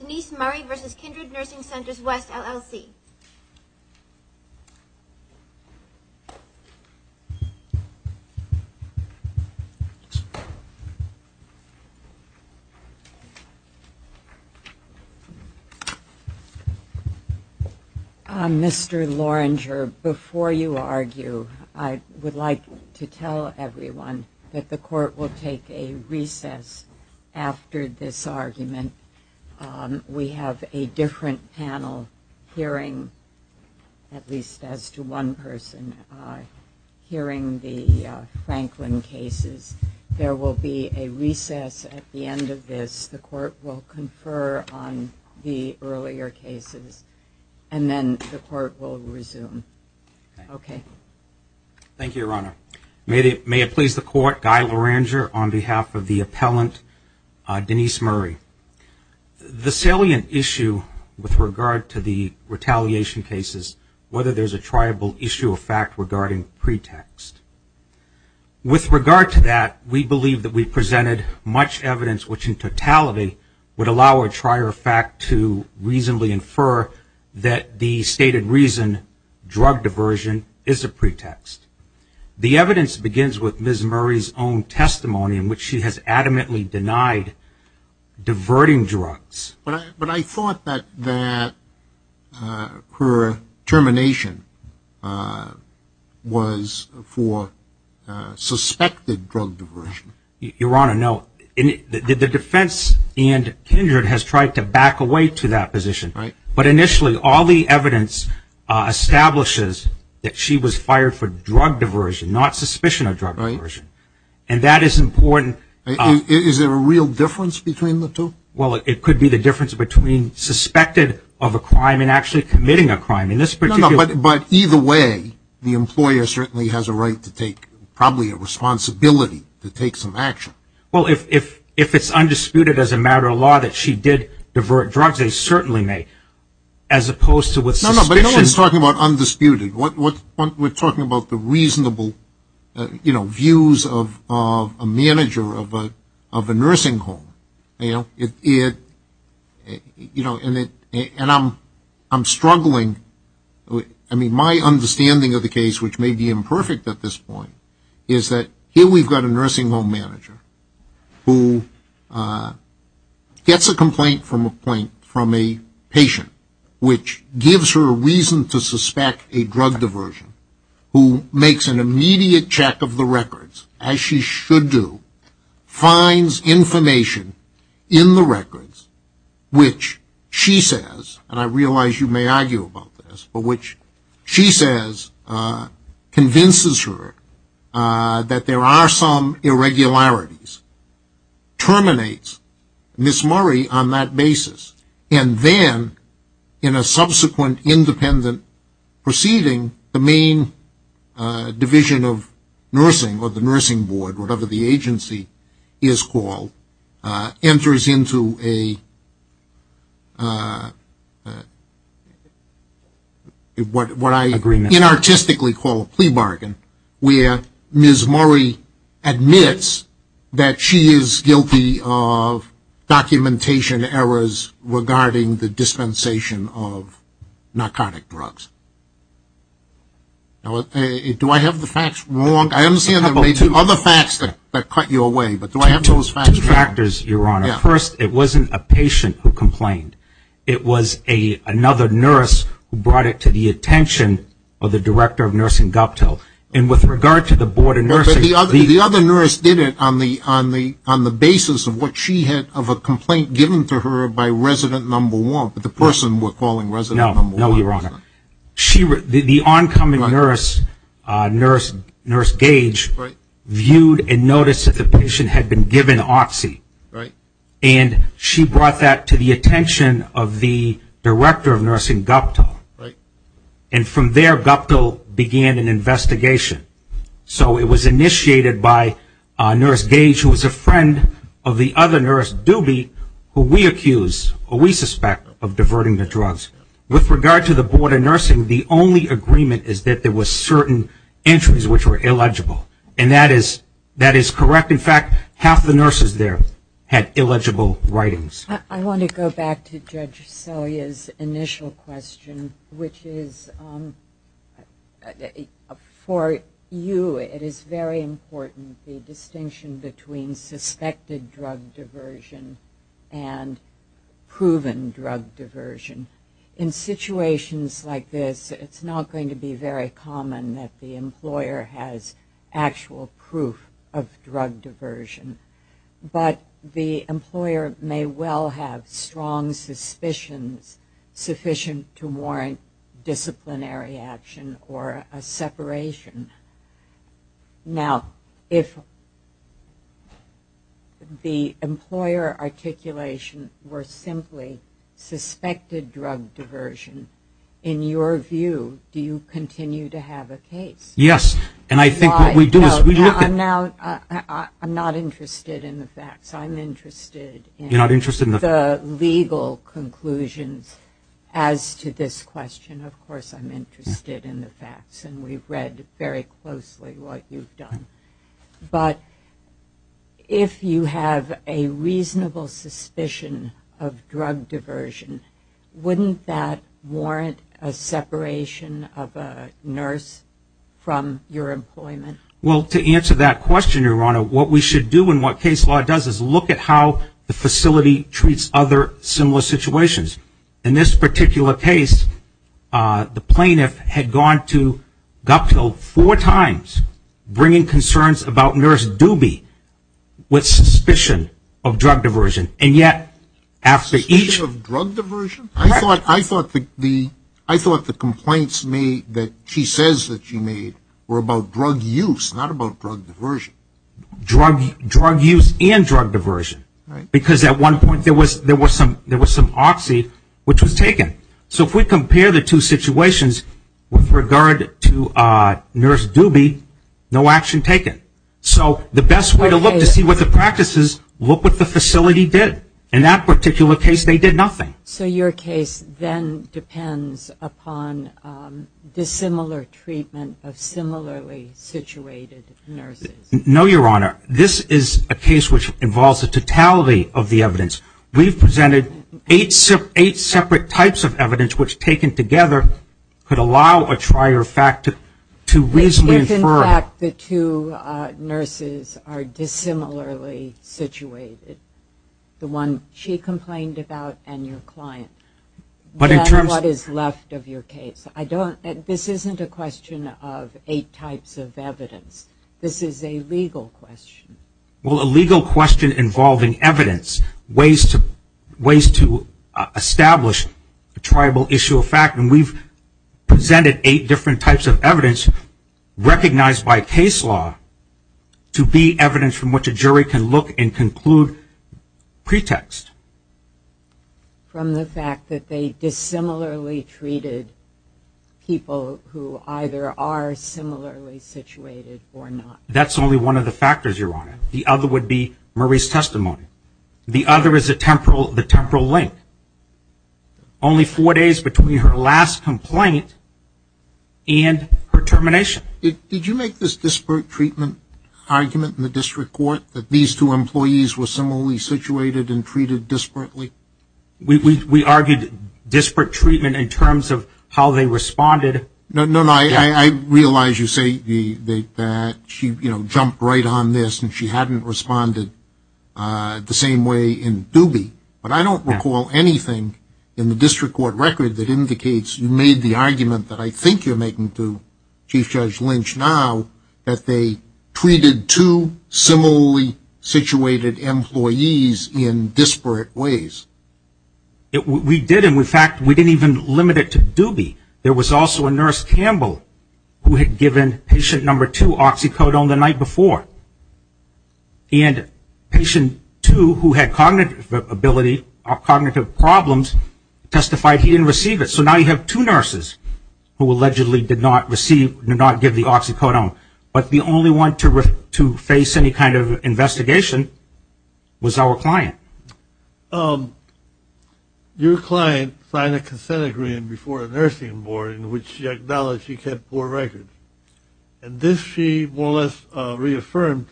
Denise Murray v. Kindred Nursing Centers West, LLC. Mr. Loringer, before you argue, I would like to tell everyone that the court will take a recess after this argument. We have a different panel hearing, at least as to one person, hearing the Franklin cases. There will be a recess at the end of this. The court will confer on the earlier cases, and then the court will resume. Thank you, Your Honor. May it please the court, Guy Loringer on behalf of the appellant Denise Murray. The salient issue with regard to the retaliation cases, whether there's a triable issue of fact regarding pretext. With regard to that, we believe that we presented much evidence which in totality would allow a trier of fact to reasonably infer that the stated reason, drug diversion, is a pretext. The evidence begins with Ms. Murray's own testimony in which she has adamantly denied diverting drugs. But I thought that her termination was for suspected drug diversion. Your Honor, no. The defense and Kindred has tried to back away to that position. Right. But initially, all the evidence establishes that she was fired for drug diversion, not suspicion of drug diversion. Right. And that is important. Is there a real difference between the two? Well, it could be the difference between suspected of a crime and actually committing a crime. But either way, the employer certainly has a right to take, probably a responsibility to take some action. Well, if it's undisputed as a matter of law that she did divert drugs, they certainly may, as opposed to with suspicion. No, no, but no one's talking about undisputed. We're talking about the reasonable, you know, views of a manager of a nursing home. You know, and I'm struggling. I mean, my understanding of the case, which may be imperfect at this point, is that here we've got a nursing home manager who gets a complaint from a patient, which gives her a reason to suspect a drug diversion, who makes an immediate check of the records, as she should do, finds information in the records which she says, and I realize you may argue about this, but which she says convinces her that there are some irregularities, terminates Miss Murray on that basis, and then in a subsequent independent proceeding, the main division of nursing or the nursing board, whatever the agency is called, enters into a, what I inartistically call a plea bargain, where Miss Murray admits that she is guilty of documentation errors regarding the dispensation of narcotic drugs. Do I have the facts wrong? I understand there may be other facts that cut you away, but do I have those facts wrong? Two factors, Your Honor. First, it wasn't a patient who complained. It was another nurse who brought it to the attention of the director of nursing, Guptill. And with regard to the board of nursing, the other nurse did it on the basis of what she had, of a complaint given to her by resident number one, but the person we're calling resident number one. No, Your Honor. The oncoming nurse, Nurse Gage, viewed and noticed that the patient had been given Oxy, and she brought that to the attention of the director of nursing, Guptill. And from there, Guptill began an investigation. So it was initiated by Nurse Gage, who was a friend of the other nurse, Doobie, who we accuse, or we suspect, of diverting the drugs. With regard to the board of nursing, the only agreement is that there were certain entries which were illegible. And that is correct. In fact, half the nurses there had illegible writings. I want to go back to Judge Celia's initial question, which is, for you, it is very important, the distinction between suspected drug diversion and proven drug diversion. In situations like this, it's not going to be very common that the employer has actual proof of drug diversion. But the employer may well have strong suspicions sufficient to warrant disciplinary action or a separation. Now, if the employer articulation were simply suspected drug diversion, in your view, do you continue to have a case? Yes, and I think what we do is we look at- I'm not interested in the facts. I'm interested in the legal conclusions as to this question. Of course, I'm interested in the facts, and we've read very closely what you've done. But if you have a reasonable suspicion of drug diversion, wouldn't that warrant a separation of a nurse from your employment? Well, to answer that question, Your Honor, what we should do and what case law does is look at how the facility treats other similar situations. In this particular case, the plaintiff had gone to Gupto four times bringing concerns about nurse Doobie with suspicion of drug diversion. And yet after each- Suspicion of drug diversion? Correct. I thought the complaints made that she says that she made were about drug use, not about drug diversion. Drug use and drug diversion. Right. Because at one point there was some oxy which was taken. So if we compare the two situations with regard to nurse Doobie, no action taken. So the best way to look to see what the practice is, look what the facility did. In that particular case, they did nothing. So your case then depends upon dissimilar treatment of similarly situated nurses? No, Your Honor. This is a case which involves the totality of the evidence. We've presented eight separate types of evidence which taken together could allow a trier fact to reasonably infer- If, in fact, the two nurses are dissimilarly situated, the one she complained about and your client, then what is left of your case? This isn't a question of eight types of evidence. This is a legal question. Well, a legal question involving evidence, ways to establish a triable issue of fact, and we've presented eight different types of evidence recognized by case law to be evidence from which a jury can look and conclude pretext. From the fact that they dissimilarly treated people who either are similarly situated or not. That's only one of the factors, Your Honor. The other would be Murray's testimony. The other is the temporal link. Only four days between her last complaint and her termination. Did you make this disparate treatment argument in the district court that these two employees were similarly situated and treated disparately? We argued disparate treatment in terms of how they responded. No, I realize you say that she jumped right on this and she hadn't responded the same way in Dubie, but I don't recall anything in the district court record that indicates you made the argument that I think you're making to Chief Judge Lynch now that they treated two similarly situated employees in disparate ways. We did, and, in fact, we didn't even limit it to Dubie. There was also a nurse, Campbell, who had given patient number two oxycodone the night before, and patient two, who had cognitive ability or cognitive problems, testified he didn't receive it. So now you have two nurses who allegedly did not receive, did not give the oxycodone, but the only one to face any kind of investigation was our client. Your client signed a consent agreement before a nursing board in which she acknowledged she kept poor records, and this she more or less reaffirmed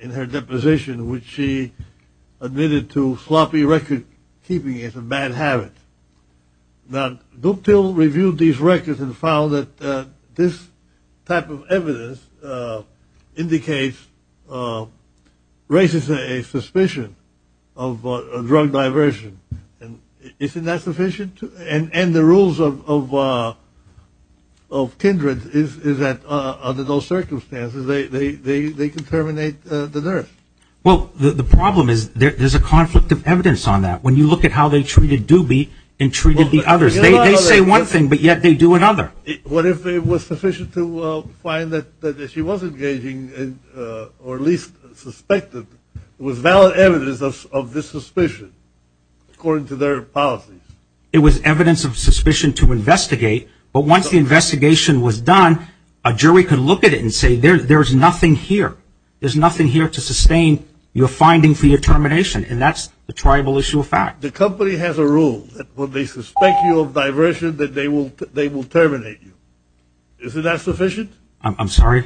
in her deposition, which she admitted to sloppy record-keeping as a bad habit. Now, Duke Till reviewed these records and found that this type of evidence indicates, raises a suspicion of drug diversion, and isn't that sufficient? And the rules of kindred is that under those circumstances they can terminate the nurse. Well, the problem is there's a conflict of evidence on that. When you look at how they treated Dubie and treated the others, they say one thing, but yet they do another. What if it was sufficient to find that she was engaging, or at least suspected, it was valid evidence of this suspicion according to their policies? It was evidence of suspicion to investigate, but once the investigation was done, a jury could look at it and say there's nothing here. There's nothing here to sustain your finding for your termination, and that's the tribal issue of fact. The company has a rule that when they suspect you of diversion that they will terminate you. Isn't that sufficient? I'm sorry?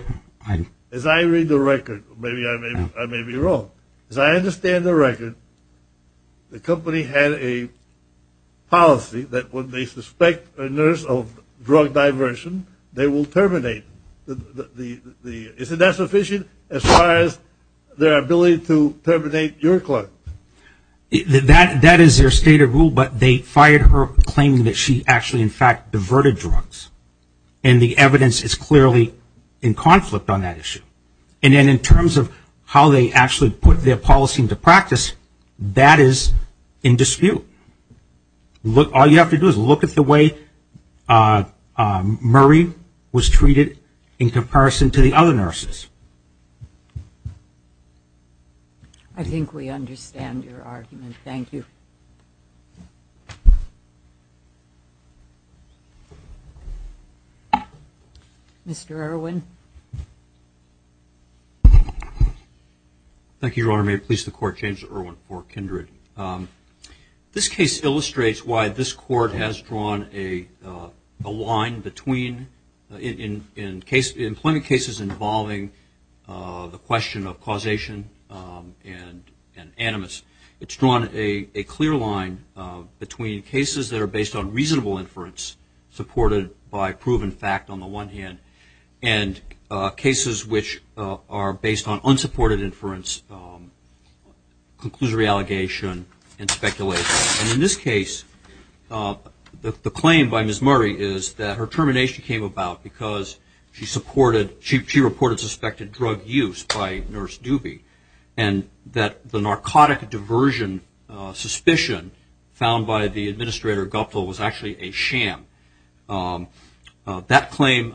As I read the record, maybe I may be wrong. As I understand the record, the company had a policy that when they suspect a nurse of drug diversion, they will terminate. Isn't that sufficient as far as their ability to terminate your client? That is their stated rule, but they fired her claiming that she actually, in fact, diverted drugs. And the evidence is clearly in conflict on that issue. And then in terms of how they actually put their policy into practice, that is in dispute. All you have to do is look at the way Murray was treated in comparison to the other nurses. I think we understand your argument. Thank you. Mr. Irwin. Thank you, Your Honor. May it please the Court, James Irwin for Kindred. This case illustrates why this Court has drawn a line between employment cases involving the question of causation and animus. It's drawn a clear line between cases that are based on reasonable inference supported by proven fact on the one hand and cases which are based on unsupported inference, conclusory allegation, and speculation. In this case, the claim by Ms. Murray is that her termination came about because she reported suspected drug use by Nurse Doobie and that the narcotic diversion suspicion found by the administrator, Guptill, was actually a sham. That claim,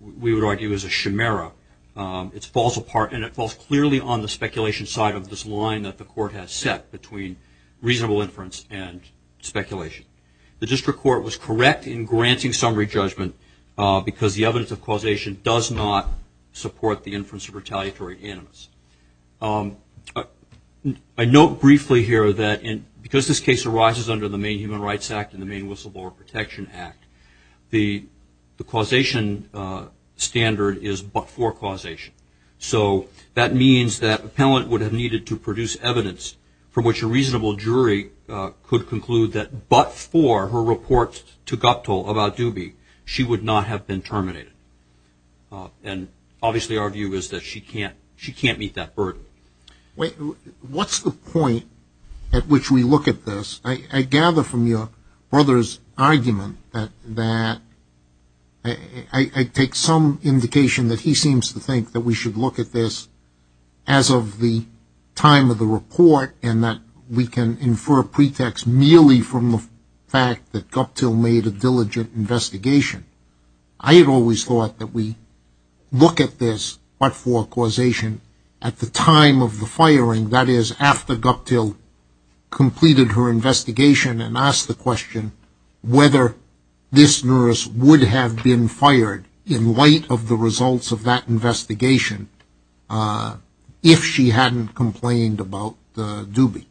we would argue, is a chimera. It falls apart and it falls clearly on the speculation side of this line that the Court has set between reasonable inference and speculation. The District Court was correct in granting summary judgment because the evidence of causation does not support the inference of retaliatory animus. I note briefly here that because this case arises under the Maine Human Rights Act and the Maine Whistleblower Protection Act, the causation standard is but-for causation. So that means that an appellant would have needed to produce evidence from which a reasonable jury could conclude that but-for her report to Guptill about Doobie, she would not have been terminated. And obviously our view is that she can't meet that burden. What's the point at which we look at this? I gather from your brother's argument that I take some indication that he seems to think that we should look at this as of the time of the report and that we can infer pretext merely from the fact that Guptill made a diligent investigation. I had always thought that we look at this but-for causation at the time of the firing, that is, after Guptill completed her investigation and asked the question whether this nurse would have been fired in light of the results of that investigation if she hadn't complained about Doobie.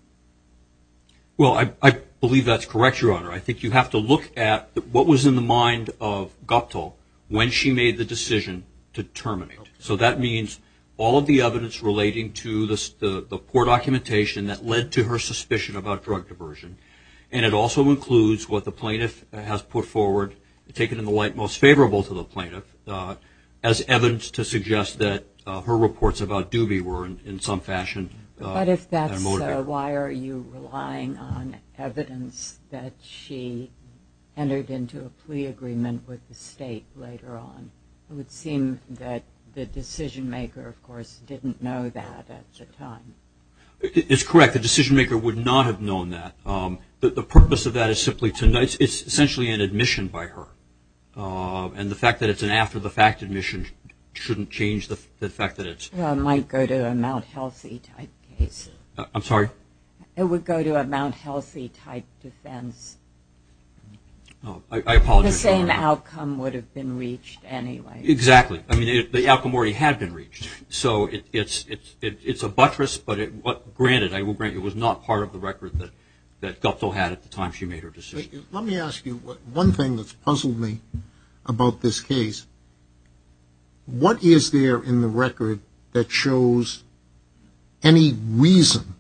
Well, I believe that's correct, Your Honor. I think you have to look at what was in the mind of Guptill when she made the decision to terminate. So that means all of the evidence relating to the poor documentation that led to her suspicion about drug diversion. And it also includes what the plaintiff has put forward, taken in the light most favorable to the plaintiff, as evidence to suggest that her reports about Doobie were in some fashion- But if that's so, why are you relying on evidence that she entered into a plea agreement with the state later on? It would seem that the decision-maker, of course, didn't know that at the time. It's correct. The decision-maker would not have known that. The purpose of that is simply to-it's essentially an admission by her. And the fact that it's an after-the-fact admission shouldn't change the fact that it's- It might go to a Mount Healthy type case. I'm sorry? I apologize, Your Honor. The same outcome would have been reached anyway. Exactly. I mean, the outcome already had been reached. So it's a buttress, but granted, it was not part of the record that Guptill had at the time she made her decision. Let me ask you one thing that's puzzled me about this case. What is there in the record that shows any reason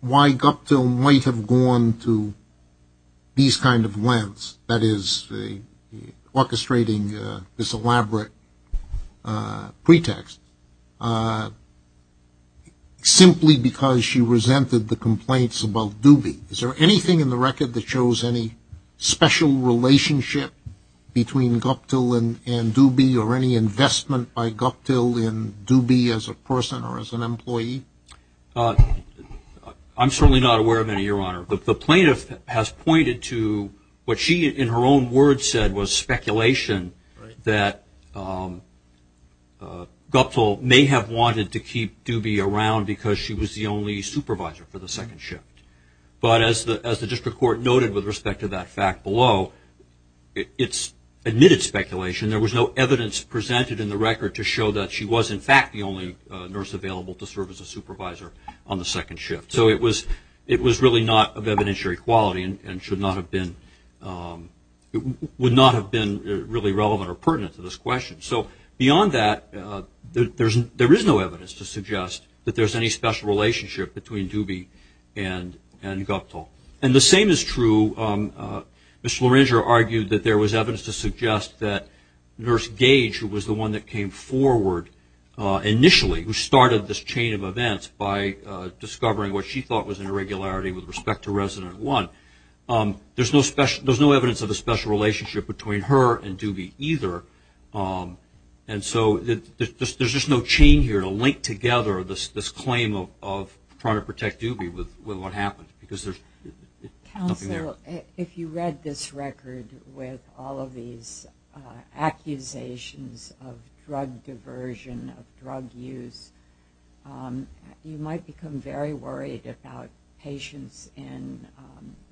why Guptill might have gone to these kind of lengths, that is, orchestrating this elaborate pretext, simply because she resented the complaints about Doobie? Is there anything in the record that shows any special relationship between Guptill and Doobie or any investment by Guptill in Doobie as a person or as an employee? I'm certainly not aware of any, Your Honor. The plaintiff has pointed to what she in her own words said was speculation that Guptill may have wanted to keep Doobie around because she was the only supervisor for the second shift. But as the district court noted with respect to that fact below, it's admitted speculation. There was no evidence presented in the record to show that she was, in fact, the only nurse available to serve as a supervisor on the second shift. So it was really not of evidentiary quality and would not have been really relevant or pertinent to this question. So beyond that, there is no evidence to suggest that there's any special relationship between Doobie and Guptill. And the same is true. Ms. Loringer argued that there was evidence to suggest that Nurse Gage, who was the one that came forward initially, who started this chain of events by discovering what she thought was an irregularity with respect to resident one, there's no evidence of a special relationship between her and Doobie either. And so there's just no chain here to link together this claim of trying to protect Doobie with what happened. Counsel, if you read this record with all of these accusations of drug diversion, of drug use, you might become very worried about patients in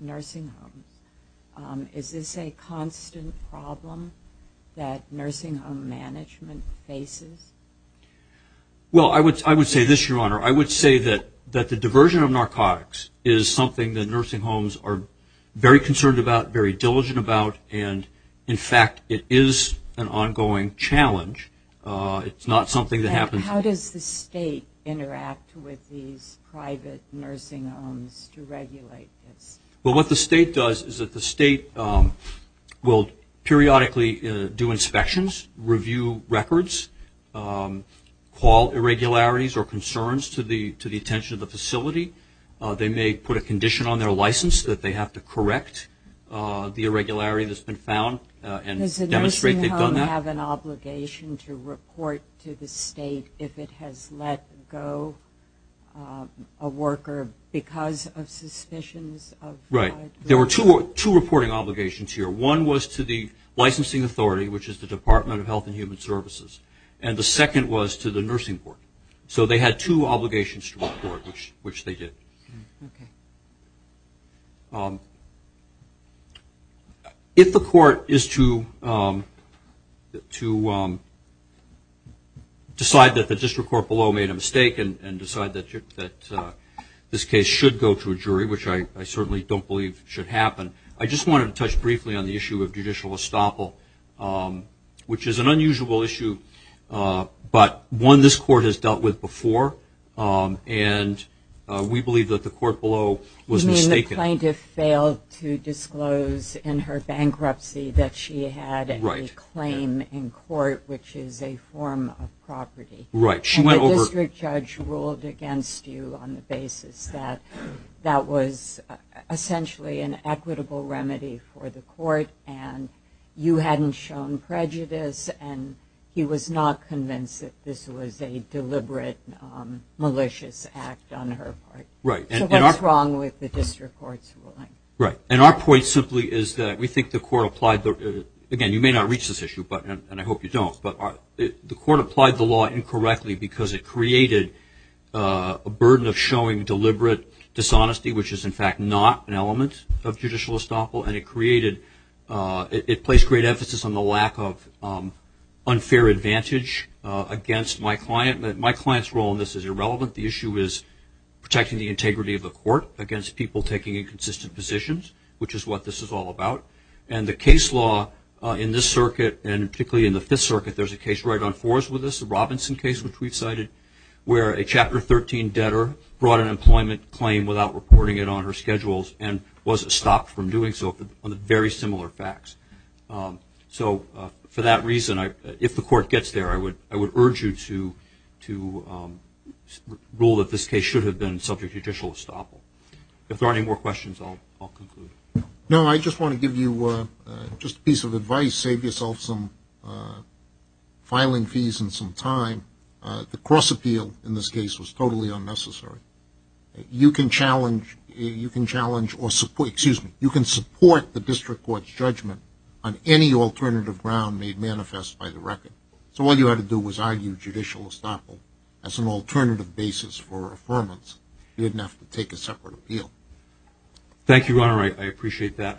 nursing homes. Is this a constant problem that nursing home management faces? Well, I would say this, Your Honor. I would say that the diversion of narcotics is something that nursing homes are very concerned about, very diligent about, and, in fact, it is an ongoing challenge. It's not something that happens... How does the state interact with these private nursing homes to regulate this? Well, what the state does is that the state will periodically do inspections, review records, call irregularities or concerns to the attention of the facility. They may put a condition on their license that they have to correct the irregularity that's been found and demonstrate they've done that. Does the state have an obligation to report to the state if it has let go a worker because of suspicions of... Right. There were two reporting obligations here. One was to the licensing authority, which is the Department of Health and Human Services, and the second was to the nursing court. So they had two obligations to the court, which they did. Okay. If the court is to decide that the district court below made a mistake and decide that this case should go to a jury, which I certainly don't believe should happen, I just wanted to touch briefly on the issue of judicial estoppel, which is an unusual issue, but one this court has dealt with before, and we believe that the court below was mistaken. You mean the plaintiff failed to disclose in her bankruptcy that she had a claim in court, which is a form of property. Right. And the district judge ruled against you on the basis that that was essentially an equitable remedy for the court and you hadn't shown prejudice, and he was not convinced that this was a deliberate malicious act on her part. Right. So what's wrong with the district court's ruling? Right. And our point simply is that we think the court applied the... Again, you may not reach this issue, and I hope you don't, but the court applied the law incorrectly because it created a burden of showing deliberate dishonesty, which is, in fact, not an element of judicial estoppel, and it placed great emphasis on the lack of unfair advantage against my client. My client's role in this is irrelevant. The issue is protecting the integrity of the court against people taking inconsistent positions, which is what this is all about. And the case law in this circuit, and particularly in the Fifth Circuit, there's a case right on fours with this, the Robinson case, which we've cited, where a Chapter 13 debtor brought an employment claim without reporting it on her schedules and was stopped from doing so on very similar facts. So for that reason, if the court gets there, I would urge you to rule that this case should have been subject to judicial estoppel. If there are any more questions, I'll conclude. No, I just want to give you just a piece of advice. Save yourself some filing fees and some time. The cross-appeal in this case was totally unnecessary. You can challenge or support, excuse me, you can support the district court's judgment on any alternative ground made manifest by the record. So all you had to do was argue judicial estoppel as an alternative basis for affirmance. You didn't have to take a separate appeal. Thank you, Your Honor. I appreciate that.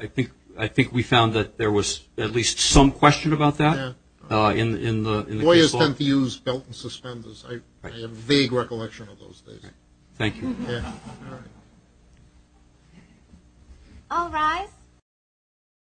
I think we found that there was at least some question about that in the case law. I have a vague recollection of those days. Thank you. All rise.